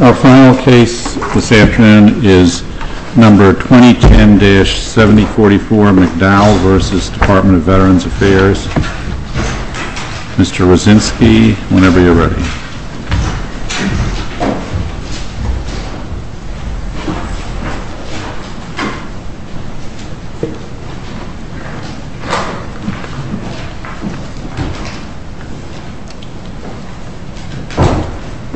Our final case this afternoon is number 2010-7044 McDowell v. Department of Veterans Affairs. Mr. Rosinsky, whenever you're ready.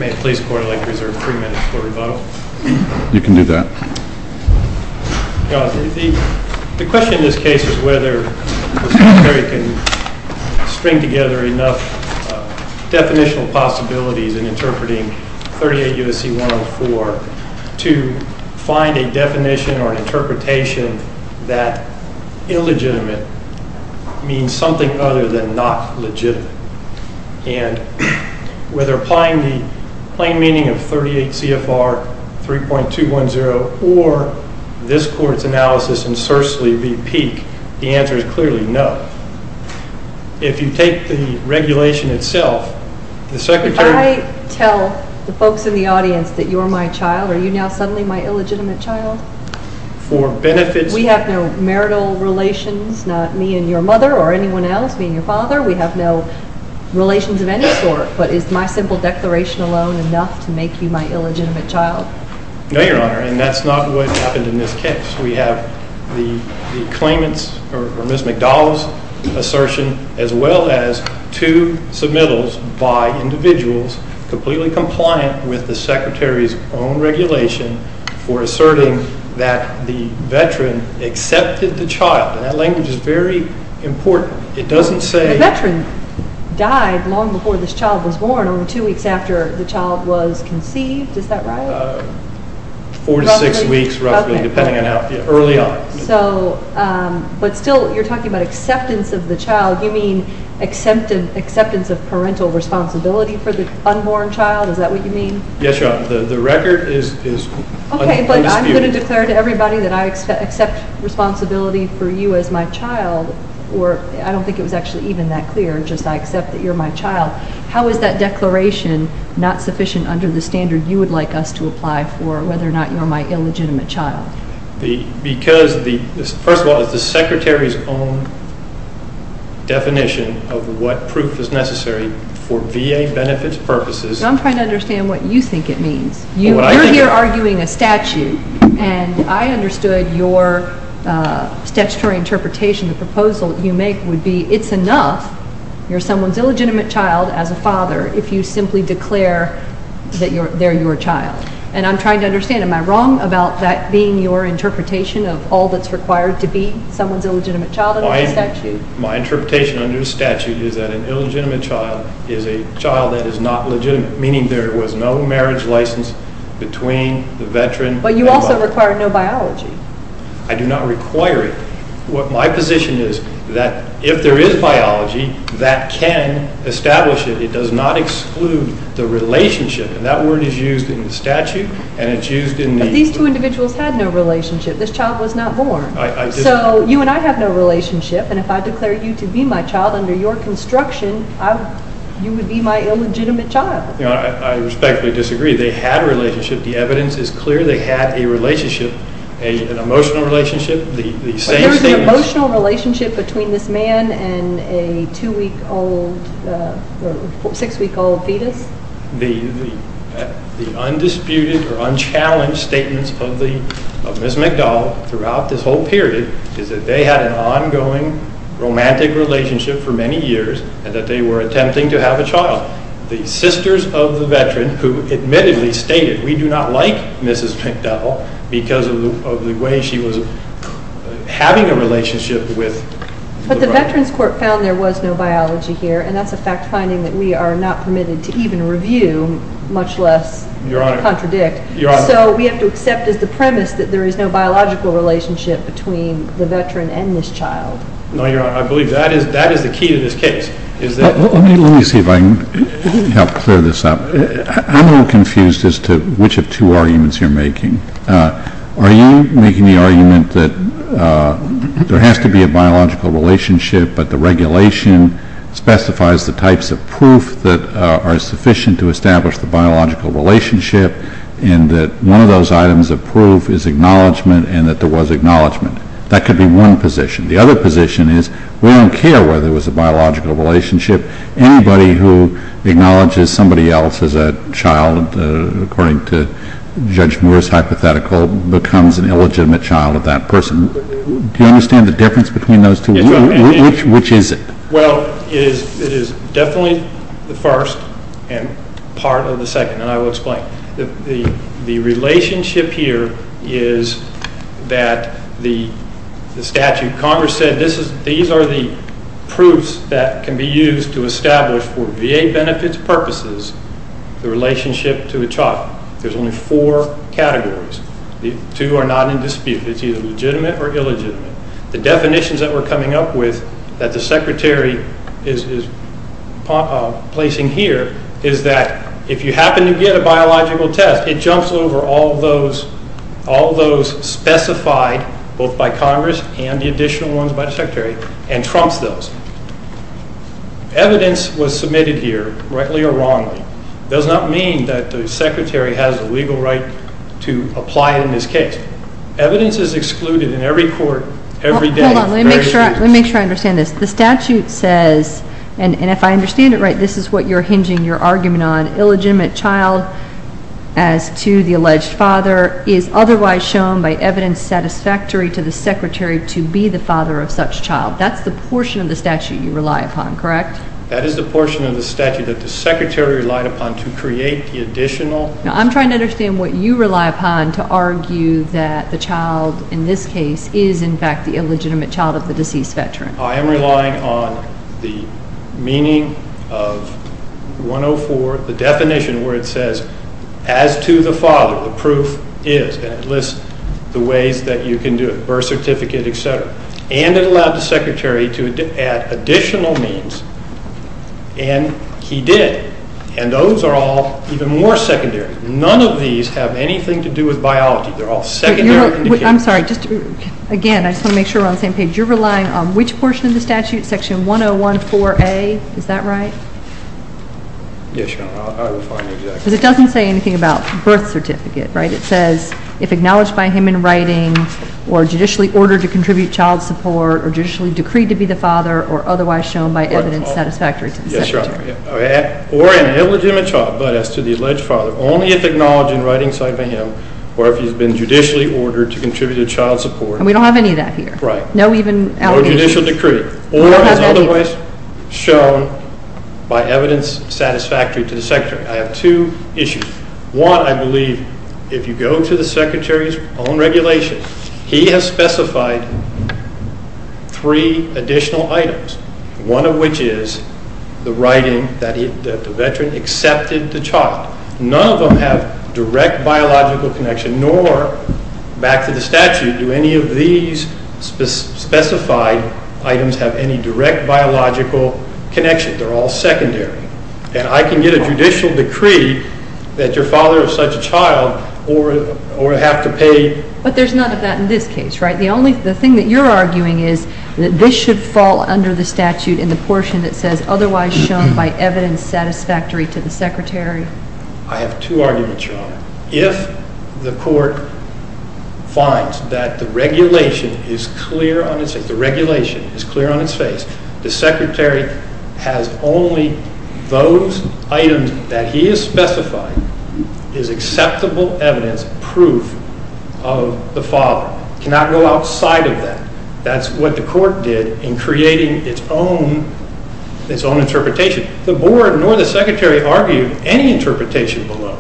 May it please the court, I'd like to reserve three minutes for rebuttal. You can do that. The question in this case is whether we can string together enough definitional possibilities in interpreting 38 U.S.C. 104 to find a definition or interpretation that illegitimate means something other than not legitimate. And whether applying the plain meaning of 38 C.F.R. 3.210 or this court's analysis in Sursley be peak, the answer is clearly no. If you take the regulation itself, the Secretary... If I tell the folks in the audience that you're my child, are you now suddenly my illegitimate child? We have no marital relations, not me and your mother or anyone else, me and your father. We have no relations of any sort. But is my simple declaration alone enough to make you my illegitimate child? No, Your Honor, and that's not what happened in this case. We have the claimant's or Ms. McDowell's assertion as well as two submittals by individuals completely compliant with the Secretary's own regulation for asserting that the veteran accepted the child. And that language is very important. It doesn't say... The veteran died long before this child was born or two weeks after the child was conceived. Is that right? Four to six weeks roughly, depending on how early on. But still, you're talking about acceptance of the child. You mean acceptance of parental responsibility for the unborn child? Is that what you mean? Yes, Your Honor. The record is undisputed. Okay, but I'm going to declare to everybody that I accept responsibility for you as my child, or I don't think it was actually even that clear, just I accept that you're my child. How is that declaration not sufficient under the standard you would like us to apply for whether or not you're my illegitimate child? Because, first of all, it's the Secretary's own definition of what proof is necessary for VA benefits purposes. I'm trying to understand what you think it means. You're here arguing a statute, and I understood your statutory interpretation, the proposal you make would be it's enough you're someone's illegitimate child as a father if you simply declare that they're your child. And I'm trying to understand, am I wrong about that being your interpretation of all that's required to be someone's illegitimate child under the statute? My interpretation under the statute is that an illegitimate child is a child that is not legitimate, meaning there was no marriage license between the veteran and the father. But you also require no biology. I do not require it. My position is that if there is biology, that can establish it. It does not exclude the relationship, and that word is used in the statute, and it's used in the... If I declare you to be my child under your construction, you would be my illegitimate child. I respectfully disagree. They had a relationship. The evidence is clear they had a relationship, an emotional relationship. But there was an emotional relationship between this man and a two-week-old, six-week-old fetus? The undisputed or unchallenged statements of Ms. McDowell throughout this whole period is that they had an ongoing romantic relationship for many years and that they were attempting to have a child. The sisters of the veteran who admittedly stated, we do not like Mrs. McDowell because of the way she was having a relationship with... But the Veterans Court found there was no biology here, and that's a fact-finding that we are not permitted to even review, much less contradict. So we have to accept as the premise that there is no biological relationship between the veteran and this child. No, Your Honor. I believe that is the key to this case. Let me see if I can help clear this up. I'm a little confused as to which of two arguments you're making. Are you making the argument that there has to be a biological relationship but the regulation specifies the types of proof that are sufficient to establish the biological relationship and that one of those items of proof is acknowledgment and that there was acknowledgment? That could be one position. The other position is we don't care whether it was a biological relationship. Anybody who acknowledges somebody else as a child, according to Judge Moore's hypothetical, becomes an illegitimate child of that person. Do you understand the difference between those two? Which is it? Well, it is definitely the first and part of the second, and I will explain. The relationship here is that the statute, Congress said these are the proofs that can be used to establish for VA benefits purposes the relationship to a child. There's only four categories. The two are not in dispute. It's either legitimate or illegitimate. The definitions that we're coming up with that the Secretary is placing here is that if you happen to get a biological test, it jumps over all those specified both by Congress and the additional ones by the Secretary and trumps those. Evidence was submitted here, rightly or wrongly, does not mean that the Secretary has a legal right to apply it in this case. Evidence is excluded in every court every day. Hold on. Let me make sure I understand this. The statute says, and if I understand it right, this is what you're hinging your argument on, illegitimate child as to the alleged father is otherwise shown by evidence satisfactory to the Secretary to be the father of such child. That's the portion of the statute you rely upon, correct? That is the portion of the statute that the Secretary relied upon to create the additional. I'm trying to understand what you rely upon to argue that the child in this case is, in fact, the illegitimate child of the deceased veteran. I am relying on the meaning of 104, the definition where it says, as to the father, the proof is, and it lists the ways that you can do it, birth certificate, et cetera. And it allowed the Secretary to add additional means, and he did. And those are all even more secondary. None of these have anything to do with biology. They're all secondary. I'm sorry. Again, I just want to make sure we're on the same page. You're relying on which portion of the statute? Section 1014A, is that right? Yes, Your Honor. I will find the exact. Because it doesn't say anything about birth certificate, right? It says, if acknowledged by him in writing, or judicially ordered to contribute child support, or judicially decreed to be the father, or otherwise shown by evidence satisfactory to the Secretary. Yes, Your Honor. Or an illegitimate child, but as to the alleged father, only if acknowledged in writing, cited by him, or if he's been judicially ordered to contribute to child support. And we don't have any of that here. Right. No even allegations. No judicial decree. Or as otherwise shown by evidence satisfactory to the Secretary. I have two issues. One, I believe, if you go to the Secretary's own regulation, he has specified three additional items. One of which is the writing that the veteran accepted the child. None of them have direct biological connection, nor, back to the statute, do any of these specified items have any direct biological connection. They're all secondary. And I can get a judicial decree that your father is such a child, or have to pay. But there's none of that in this case, right? The thing that you're arguing is that this should fall under the statute in the portion that says, otherwise shown by evidence satisfactory to the Secretary. I have two arguments, Your Honor. If the court finds that the regulation is clear on its face, the Secretary has only those items that he has specified as acceptable evidence, proof of the father. It cannot go outside of that. That's what the court did in creating its own interpretation. The board, nor the Secretary, argued any interpretation below.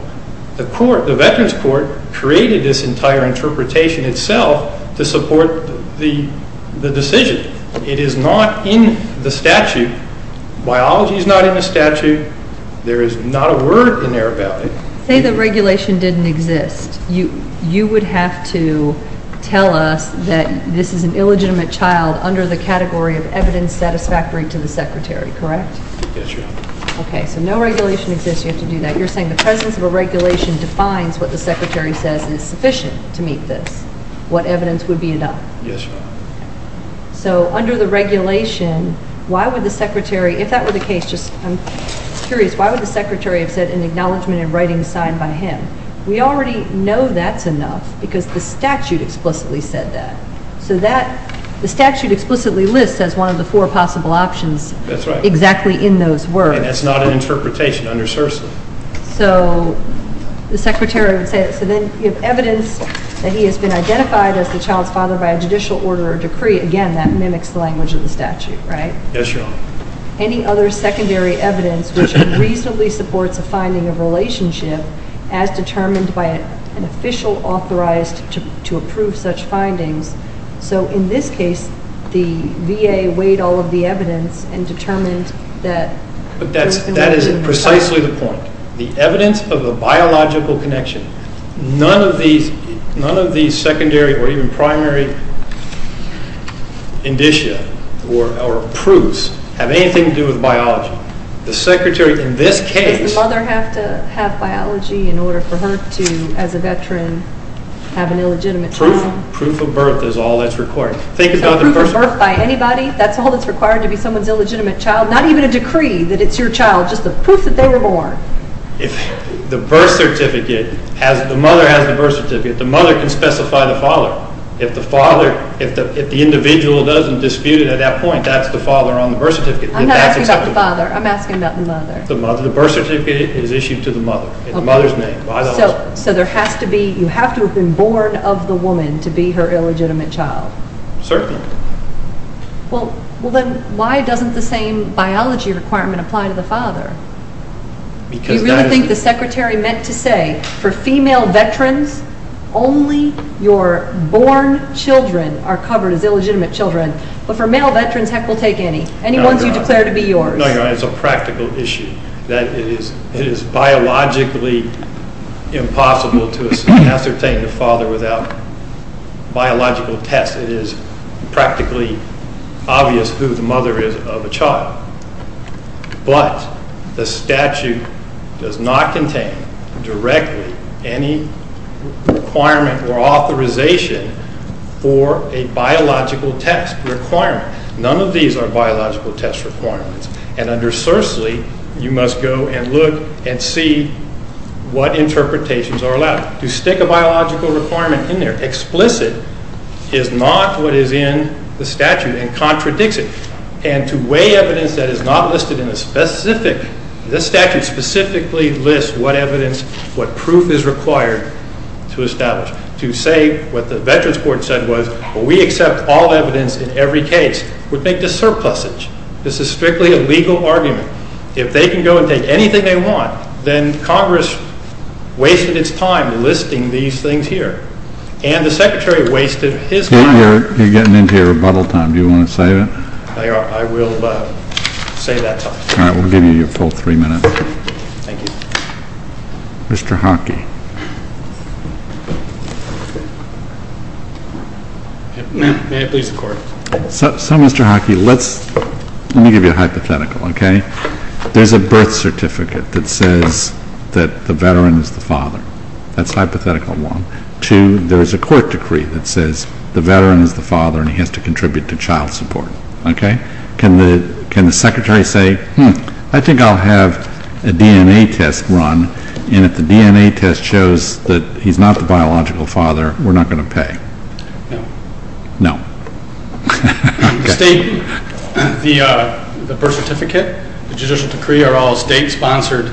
The court, the Veterans Court, created this entire interpretation itself to support the decision. It is not in the statute. Biology is not in the statute. There is not a word in there about it. Say the regulation didn't exist. You would have to tell us that this is an illegitimate child under the category of evidence satisfactory to the Secretary, correct? Yes, Your Honor. Okay, so no regulation exists. You have to do that. You're saying the presence of a regulation defines what the Secretary says is sufficient to meet this. What evidence would be enough? Yes, Your Honor. So under the regulation, why would the Secretary, if that were the case, just I'm curious, why would the Secretary have said an acknowledgment in writing signed by him? We already know that's enough because the statute explicitly said that. So that, the statute explicitly lists as one of the four possible options. That's right. Exactly in those words. And that's not an interpretation under CERSA. So the Secretary would say, so then you have evidence that he has been identified as the child's father by a judicial order or decree. Again, that mimics the language of the statute, right? Yes, Your Honor. Any other secondary evidence which reasonably supports a finding of relationship as determined by an official authorized to approve such findings. So in this case, the VA weighed all of the evidence and determined that. But that is precisely the point. The evidence of a biological connection. None of these secondary or even primary indicia or proofs have anything to do with biology. The Secretary in this case. Does the mother have to have biology in order for her to, as a veteran, have an illegitimate child? Proof of birth is all that's required. Proof of birth by anybody? That's all that's required to be someone's illegitimate child? Not even a decree that it's your child, just the proof that they were born. If the birth certificate has, the mother has the birth certificate, the mother can specify the father. If the father, if the individual doesn't dispute it at that point, that's the father on the birth certificate. I'm not asking about the father. I'm asking about the mother. The birth certificate is issued to the mother. It's the mother's name. So there has to be, you have to have been born of the woman to be her illegitimate child. Certainly. Well, then why doesn't the same biology requirement apply to the father? Because that is... You really think the Secretary meant to say for female veterans, only your born children are covered as illegitimate children, but for male veterans, heck, we'll take any. Any ones you declare to be yours. No, you're right. It's a practical issue. It is biologically impossible to ascertain the father without biological tests. It is practically obvious who the mother is of a child. But the statute does not contain directly any requirement or authorization for a biological test requirement. None of these are biological test requirements. And undersourcely, you must go and look and see what interpretations are allowed. To stick a biological requirement in there, explicit, is not what is in the statute and contradicts it. And to weigh evidence that is not listed in a specific, this statute specifically lists what evidence, what proof is required to establish. To say what the Veterans Court said was, we accept all evidence in every case, would make this surplusage. This is strictly a legal argument. If they can go and take anything they want, then Congress wasted its time listing these things here. And the Secretary wasted his time. You're getting into your rebuttal time. Do you want to save it? I will save that time. All right, we'll give you your full three minutes. Thank you. Mr. Hockey. May I please record? So, Mr. Hockey, let me give you a hypothetical, okay? There's a birth certificate that says that the Veteran is the father. That's a hypothetical one. Two, there's a court decree that says the Veteran is the father and he has to contribute to child support. Okay? Can the Secretary say, I think I'll have a DNA test run, and if the DNA test shows that he's not the biological father, we're not going to pay? No. Okay. The birth certificate, the judicial decree are all state-sponsored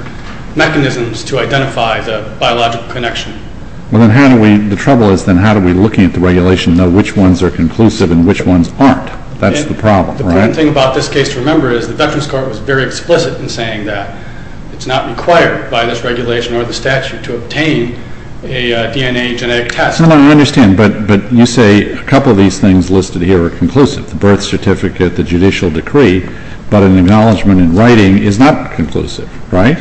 mechanisms to identify the biological connection. Well, then how do we, the trouble is then how do we, looking at the regulation, know which ones are conclusive and which ones aren't? That's the problem, right? The important thing about this case to remember is the Veterans Court was very explicit in saying that. It's not required by this regulation or the statute to obtain a DNA genetic test. That's the one I understand, but you say a couple of these things listed here are conclusive, the birth certificate, the judicial decree, but an acknowledgment in writing is not conclusive, right?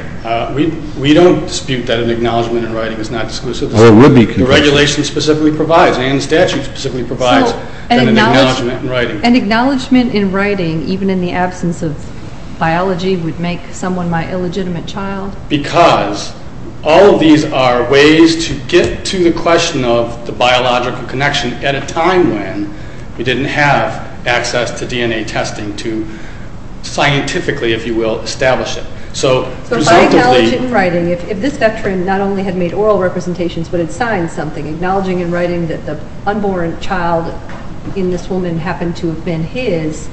We don't dispute that an acknowledgment in writing is not conclusive. It would be conclusive. The regulation specifically provides and the statute specifically provides an acknowledgment in writing. An acknowledgment in writing, even in the absence of biology, would make someone my illegitimate child? Because all of these are ways to get to the question of the biological connection at a time when we didn't have access to DNA testing to scientifically, if you will, establish it. So if I acknowledge it in writing, if this Veteran not only had made oral representations but had signed something, acknowledging in writing that the unborn child in this woman happened to have been his,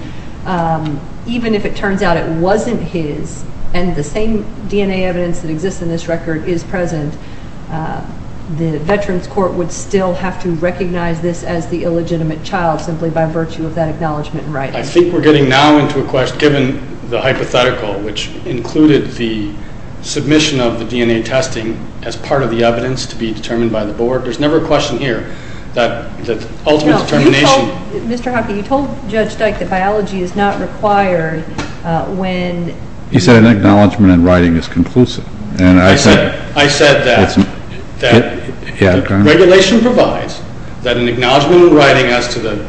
even if it turns out it wasn't his and the same DNA evidence that exists in this record is present, the Veterans Court would still have to recognize this as the illegitimate child simply by virtue of that acknowledgment in writing. I think we're getting now into a question, given the hypothetical, which included the submission of the DNA testing as part of the evidence to be determined by the board, there's never a question here that the ultimate determination. Mr. Hockey, you told Judge Dyke that biology is not required when... He said an acknowledgment in writing is conclusive. I said that regulation provides that an acknowledgment in writing as to the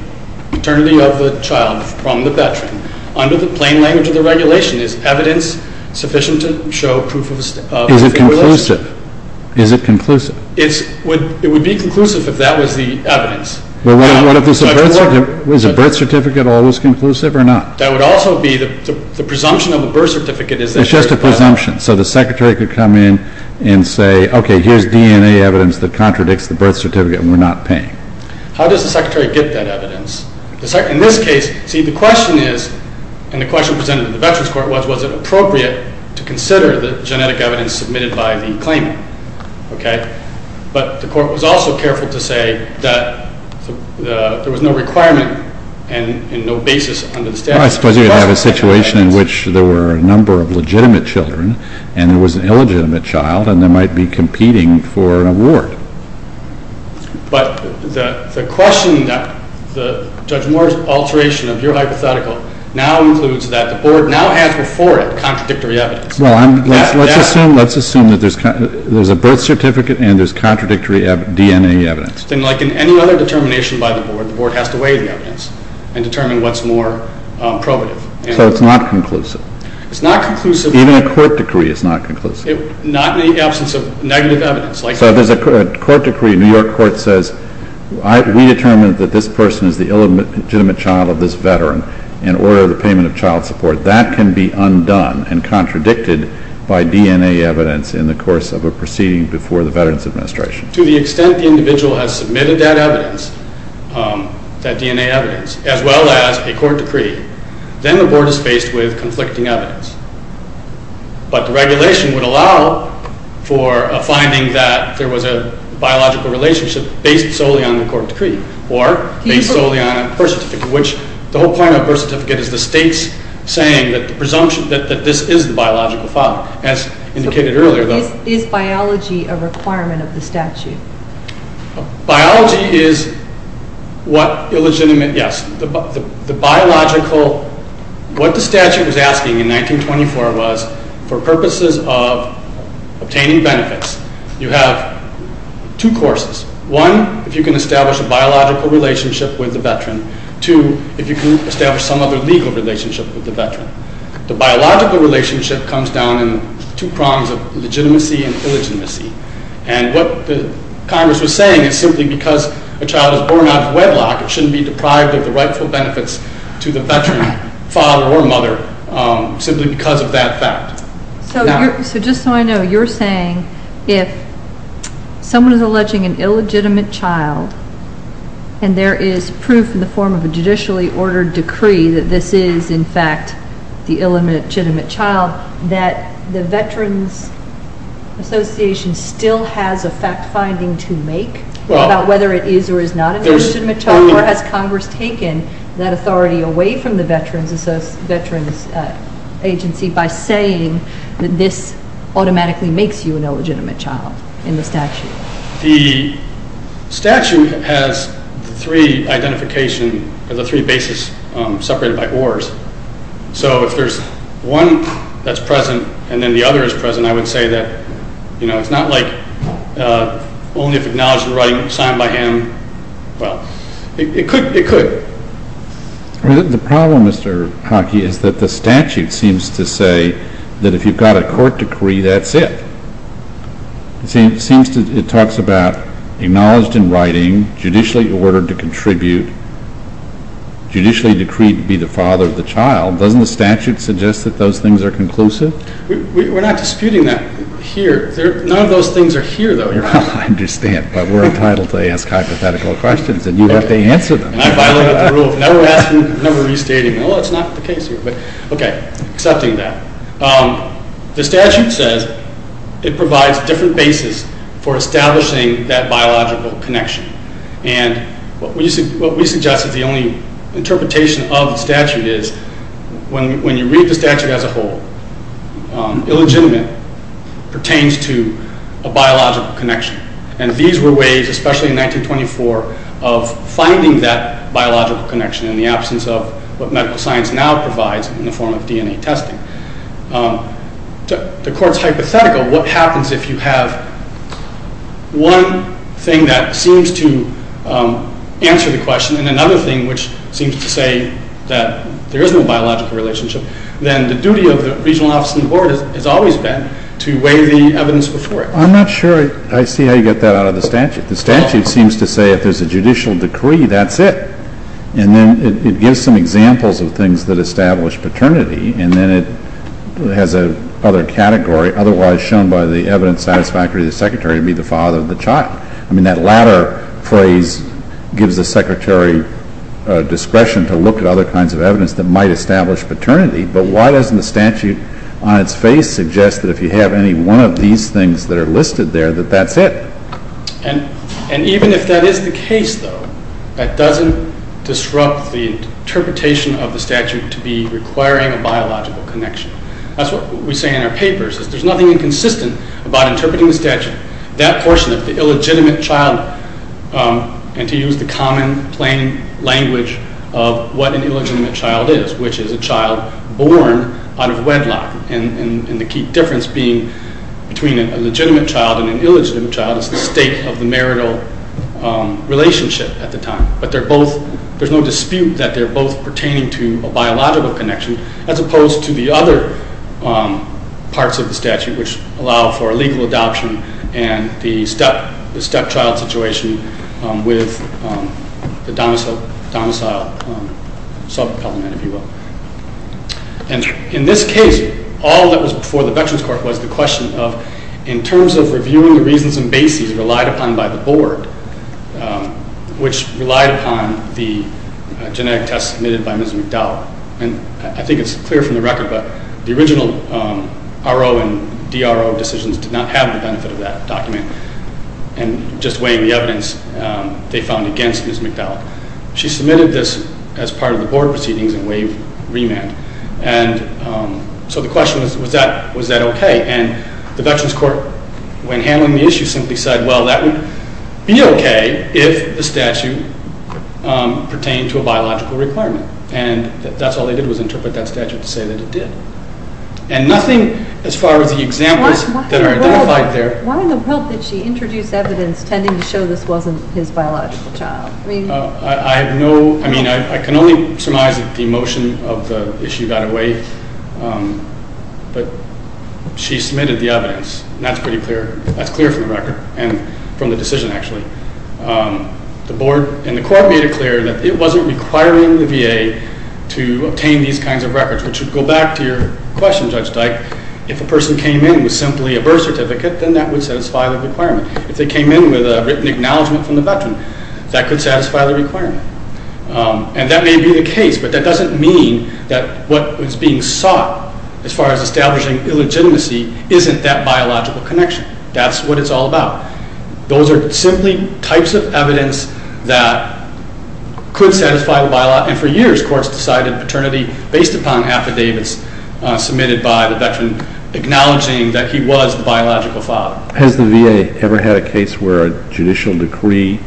paternity of the child from the Veteran under the plain language of the regulation is evidence sufficient to show proof of... Is it conclusive? Is it conclusive? It would be conclusive if that was the evidence. Well, what if it's a birth certificate? Is a birth certificate always conclusive or not? That would also be the presumption of the birth certificate is that... It's just a presumption, so the secretary could come in and say, okay, here's DNA evidence that contradicts the birth certificate and we're not paying. How does the secretary get that evidence? In this case, see, the question is, and the question presented in the Veterans Court was, was it appropriate to consider the genetic evidence submitted by the claimant, okay? But the court was also careful to say that there was no requirement and no basis under the statute. I suppose you could have a situation in which there were a number of legitimate children and there was an illegitimate child and they might be competing for an award. But the question that Judge Moore's alteration of your hypothetical now includes that the Board now has before it contradictory evidence. Well, let's assume that there's a birth certificate and there's contradictory DNA evidence. Then like in any other determination by the Board, the Board has to weigh the evidence and determine what's more probative. So it's not conclusive. It's not conclusive. Even a court decree is not conclusive. Not in the absence of negative evidence. So if there's a court decree, New York court says, we determined that this person is the illegitimate child of this Veteran in order of the payment of child support. That can be undone and contradicted by DNA evidence in the course of a proceeding before the Veterans Administration. To the extent the individual has submitted that evidence, that DNA evidence, as well as a court decree, then the Board is faced with conflicting evidence. But the regulation would allow for a finding that there was a biological relationship based solely on the court decree or based solely on a birth certificate, which the whole point of a birth certificate is the State's saying that the presumption that this is the biological father, as indicated earlier. Is biology a requirement of the statute? Biology is what illegitimate, yes. The biological, what the statute was asking in 1924 was, for purposes of obtaining benefits, you have two courses. One, if you can establish a biological relationship with the Veteran. Two, if you can establish some other legal relationship with the Veteran. The biological relationship comes down in two prongs of legitimacy and illegitimacy. And what the Congress was saying is simply because a child is born out of wedlock, it shouldn't be deprived of the rightful benefits to the Veteran, father or mother, simply because of that fact. So just so I know, you're saying if someone is alleging an illegitimate child and there is proof in the form of a judicially ordered decree that this is, in fact, the illegitimate child, that the Veterans Association still has a fact-finding to make about whether it is or is not an illegitimate child, or has Congress taken that authority away from the Veterans Agency by saying that this automatically makes you an illegitimate child in the statute? The statute has the three identification, the three bases separated by ORs. So if there's one that's present and then the other is present, I would say that it's not like only if acknowledged in writing, signed by him. Well, it could. The problem, Mr. Hockey, is that the statute seems to say that if you've got a court decree, that's it. It talks about acknowledged in writing, judicially ordered to contribute, judicially decreed to be the father of the child. Doesn't the statute suggest that those things are conclusive? We're not disputing that here. None of those things are here, though. I understand. But we're entitled to ask hypothetical questions, and you have to answer them. And I violated the rule of never asking, never restating. Well, that's not the case here. Okay, accepting that. The statute says it provides different bases for establishing that biological connection. And what we suggest is the only interpretation of the statute is when you read the statute as a whole, illegitimate pertains to a biological connection. And these were ways, especially in 1924, of finding that biological connection in the absence of what medical science now provides in the form of DNA testing. The court's hypothetical. What happens if you have one thing that seems to answer the question and another thing which seems to say that there is no biological relationship? Then the duty of the regional office and the board has always been to weigh the evidence before it. I'm not sure I see how you get that out of the statute. The statute seems to say if there's a judicial decree, that's it. And then it gives some examples of things that establish paternity, and then it has a other category, otherwise shown by the evidence satisfactory to the secretary, to be the father of the child. I mean, that latter phrase gives the secretary discretion to look at other kinds of evidence that might establish paternity. But why doesn't the statute on its face suggest that if you have any one of these things that are listed there, that that's it? And even if that is the case, though, that doesn't disrupt the interpretation of the statute to be requiring a biological connection. That's what we say in our papers, is there's nothing inconsistent about interpreting the statute. That portion of the illegitimate child, and to use the common plain language of what an illegitimate child is, which is a child born out of wedlock, and the key difference being between a legitimate child and an illegitimate child is the state of the marital relationship at the time. But there's no dispute that they're both pertaining to a biological connection, as opposed to the other parts of the statute which allow for legal adoption and the stepchild situation with the domicile sub-element, if you will. And in this case, all that was before the Veterans Court was the question of, in terms of reviewing the reasons and bases relied upon by the board, which relied upon the genetic test submitted by Ms. McDowell. And I think it's clear from the record, but the original RO and DRO decisions did not have the benefit of that document, and just weighing the evidence they found against Ms. McDowell. She submitted this as part of the board proceedings and waived remand. And so the question was, was that okay? And the Veterans Court, when handling the issue, simply said, well, that would be okay if the statute pertained to a biological requirement. And that's all they did was interpret that statute to say that it did. And nothing as far as the examples that are identified there. Why in the world did she introduce evidence tending to show this wasn't his biological child? I have no—I mean, I can only surmise that the emotion of the issue got away. But she submitted the evidence, and that's pretty clear. That's clear from the record and from the decision, actually. The board and the court made it clear that it wasn't requiring the VA to obtain these kinds of records, which would go back to your question, Judge Dyke. If a person came in with simply a birth certificate, then that would satisfy the requirement. If they came in with a written acknowledgment from the veteran, that could satisfy the requirement. And that may be the case, but that doesn't mean that what was being sought as far as establishing illegitimacy isn't that biological connection. That's what it's all about. Those are simply types of evidence that could satisfy the biological— and for years, courts decided paternity based upon affidavits submitted by the veteran acknowledging that he was the biological father. Has the VA ever had a case where a judicial decree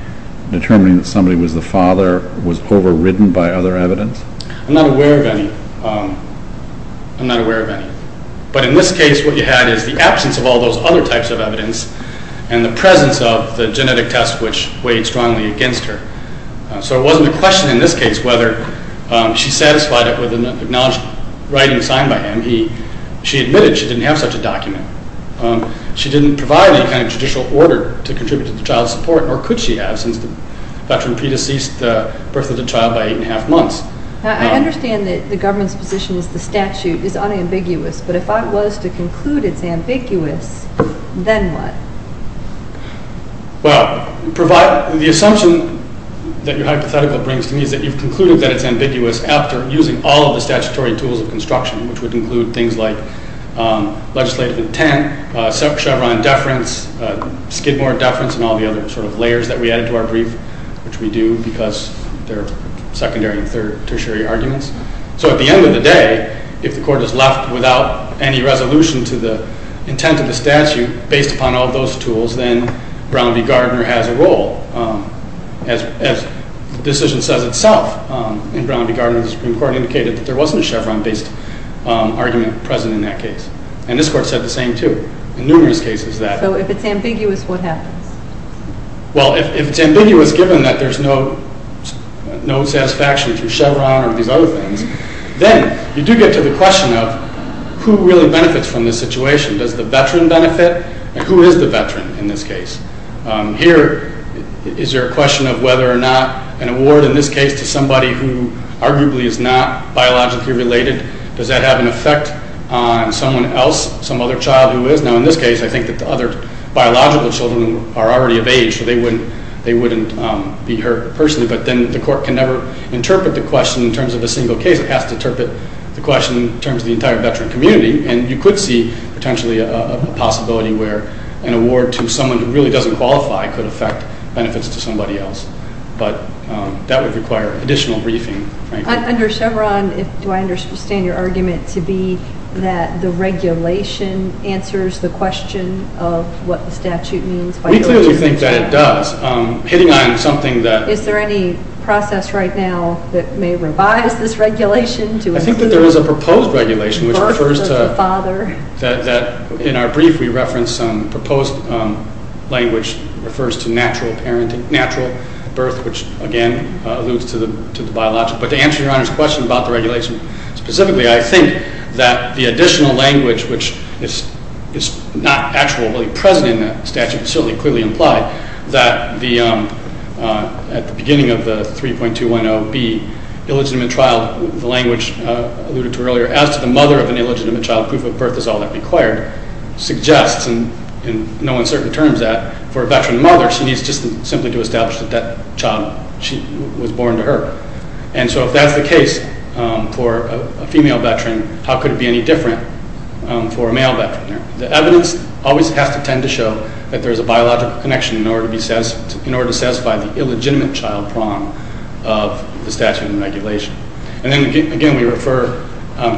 determining that somebody was the father was overridden by other evidence? I'm not aware of any. I'm not aware of any. But in this case, what you had is the absence of all those other types of evidence and the presence of the genetic test, which weighed strongly against her. So it wasn't a question in this case whether she satisfied it with an acknowledged writing signed by him. She admitted she didn't have such a document. She didn't provide any kind of judicial order to contribute to the child's support, nor could she have since the veteran pre-deceased the birth of the child by 8 1⁄2 months. I understand that the government's position is the statute is unambiguous, but if I was to conclude it's ambiguous, then what? Well, the assumption that your hypothetical brings to me is that you've concluded that it's ambiguous after using all of the statutory tools of construction, which would include things like legislative intent, Chevron deference, Skidmore deference, and all the other sort of layers that we added to our brief, which we do because they're secondary and tertiary arguments. So at the end of the day, if the court is left without any resolution to the intent of the statute based upon all those tools, then Brown v. Gardner has a role. As the decision says itself in Brown v. Gardner, the Supreme Court indicated that there wasn't a Chevron-based argument present in that case. And this Court said the same, too, in numerous cases that... So if it's ambiguous, what happens? Well, if it's ambiguous, given that there's no satisfaction through Chevron or these other things, then you do get to the question of who really benefits from this situation. Does the veteran benefit, and who is the veteran in this case? Here, is there a question of whether or not an award in this case to somebody who arguably is not biologically related, does that have an effect on someone else, some other child who is? Now, in this case, I think that the other biological children are already of age, so they wouldn't be hurt personally, but then the court can never interpret the question in terms of a single case. It has to interpret the question in terms of the entire veteran community, and you could see potentially a possibility where an award to someone who really doesn't qualify could affect benefits to somebody else. But that would require additional briefing, frankly. Under Chevron, do I understand your argument to be that the regulation answers the question of what the statute means? We clearly think that it does. Hitting on something that... Is there any process right now that may revise this regulation? The birth of the father. In our brief, we referenced some proposed language that refers to natural birth, which again alludes to the biological. But to answer Your Honor's question about the regulation specifically, I think that the additional language, which is not actually present in that statute, certainly clearly implied that at the beginning of the 3.210B, illegitimate child, the language alluded to earlier, as to the mother of an illegitimate child, proof of birth is all that required, suggests in no uncertain terms that for a veteran mother, she needs just simply to establish that that child was born to her. And so if that's the case for a female veteran, how could it be any different for a male veteran? The evidence always has to tend to show that there's a biological connection in order to satisfy the illegitimate child prong of the statute and regulation. And then again, we refer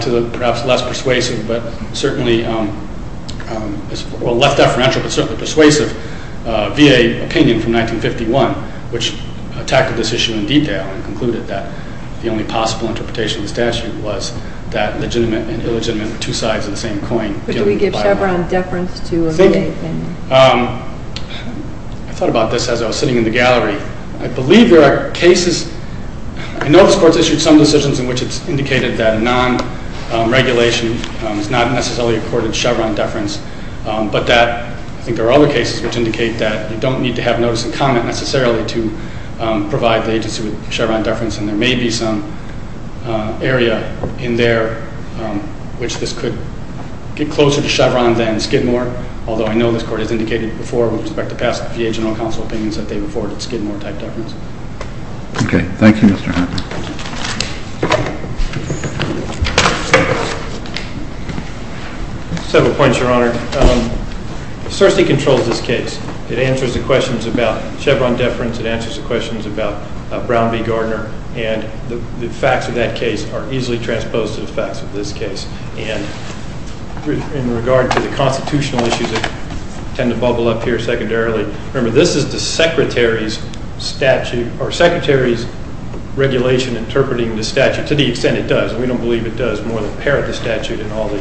to the perhaps less persuasive, but certainly, well, less deferential, but certainly persuasive, VA opinion from 1951, which tackled this issue in detail and concluded that the only possible interpretation of the statute was that legitimate and illegitimate are two sides of the same coin. But do we give Chevron deference to a VA opinion? I thought about this as I was sitting in the gallery. I believe there are cases, I know this Court's issued some decisions in which it's indicated that non-regulation is not necessarily accorded Chevron deference, but that I think there are other cases which indicate that you don't need to have notice and comment necessarily to provide the agency with Chevron deference, and there may be some area in there which this could get closer to Chevron than Skidmore, although I know this Court has indicated before with respect to past VA general counsel opinions that they've afforded Skidmore-type deference. Okay. Thank you, Mr. Hartman. Several points, Your Honor. CERSTI controls this case. It answers the questions about Chevron deference. It answers the questions about Brown v. Gardner, and the facts of that case are easily transposed to the facts of this case. And in regard to the constitutional issues that tend to bubble up here secondarily, remember this is the Secretary's statute or Secretary's regulation interpreting the statute to the extent it does, and we don't believe it does more than parrot the statute in all the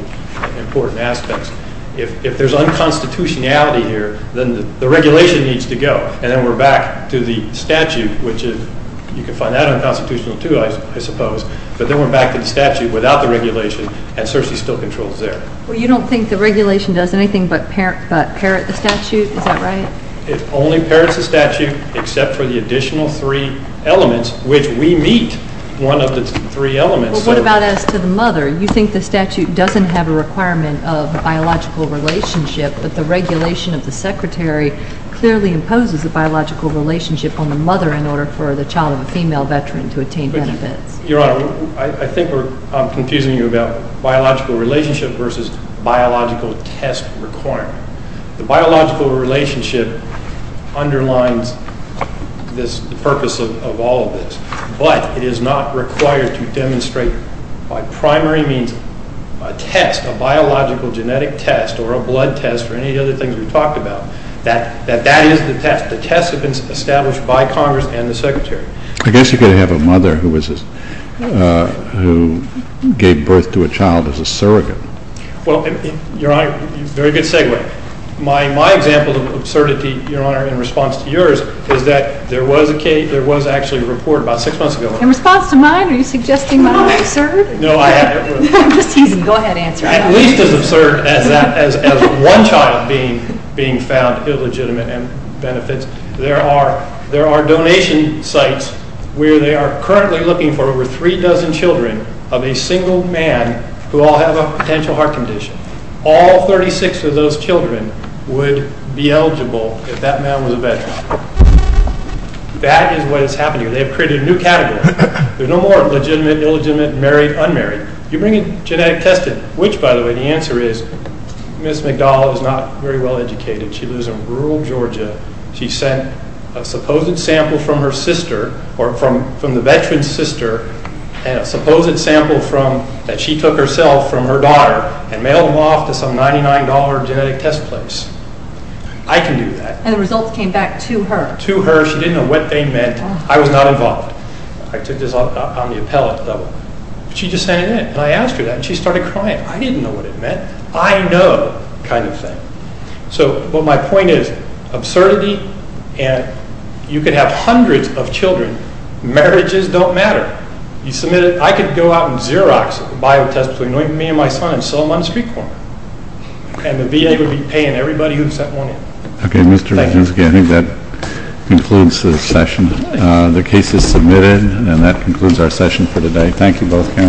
important aspects. If there's unconstitutionality here, then the regulation needs to go, and then we're back to the statute, which you can find that unconstitutional too, I suppose, but then we're back to the statute without the regulation, and CERSTI still controls there. Well, you don't think the regulation does anything but parrot the statute? Is that right? It only parrots the statute except for the additional three elements, which we meet one of the three elements. Well, what about as to the mother? You think the statute doesn't have a requirement of biological relationship, but the regulation of the Secretary clearly imposes a biological relationship on the mother in order for the child of a female veteran to attain benefits. Your Honor, I think I'm confusing you about biological relationship versus biological test requirement. The biological relationship underlines the purpose of all of this, but it is not required to demonstrate by primary means a test, a biological genetic test or a blood test or any of the other things we've talked about, that that is the test. The tests have been established by Congress and the Secretary. I guess you could have a mother who gave birth to a child as a surrogate. Well, Your Honor, very good segue. My example of absurdity, Your Honor, in response to yours is that there was actually a report about six months ago. In response to mine? Are you suggesting mine is absurd? No, I am. Go ahead, answer. At least as absurd as one child being found illegitimate and benefits. There are donation sites where they are currently looking for over three dozen children of a single man who all have a potential heart condition. All 36 of those children would be eligible if that man was a veteran. That is what is happening. They have created a new category. There are no more legitimate, illegitimate, married, unmarried. You bring in genetic testing, which, by the way, the answer is Ms. McDowell is not very well educated. She lives in rural Georgia. She sent a supposed sample from her sister, or from the veteran's sister, and a supposed sample that she took herself from her daughter and mailed them off to some $99 genetic test place. I can do that. And the results came back to her. To her. She didn't know what they meant. I was not involved. I took this on the appellate level. She just sent it in, and I asked her that, and she started crying. I didn't know what it meant. I know, kind of thing. So, but my point is, absurdity, and you could have hundreds of children. Marriages don't matter. You submit it. I could go out and Xerox a bio test between me and my son and sell them on the street corner. And the VA would be paying everybody who sent one in. Okay, Mr. Regenski, I think that concludes the session. The case is submitted, and that concludes our session for today. Thank you both.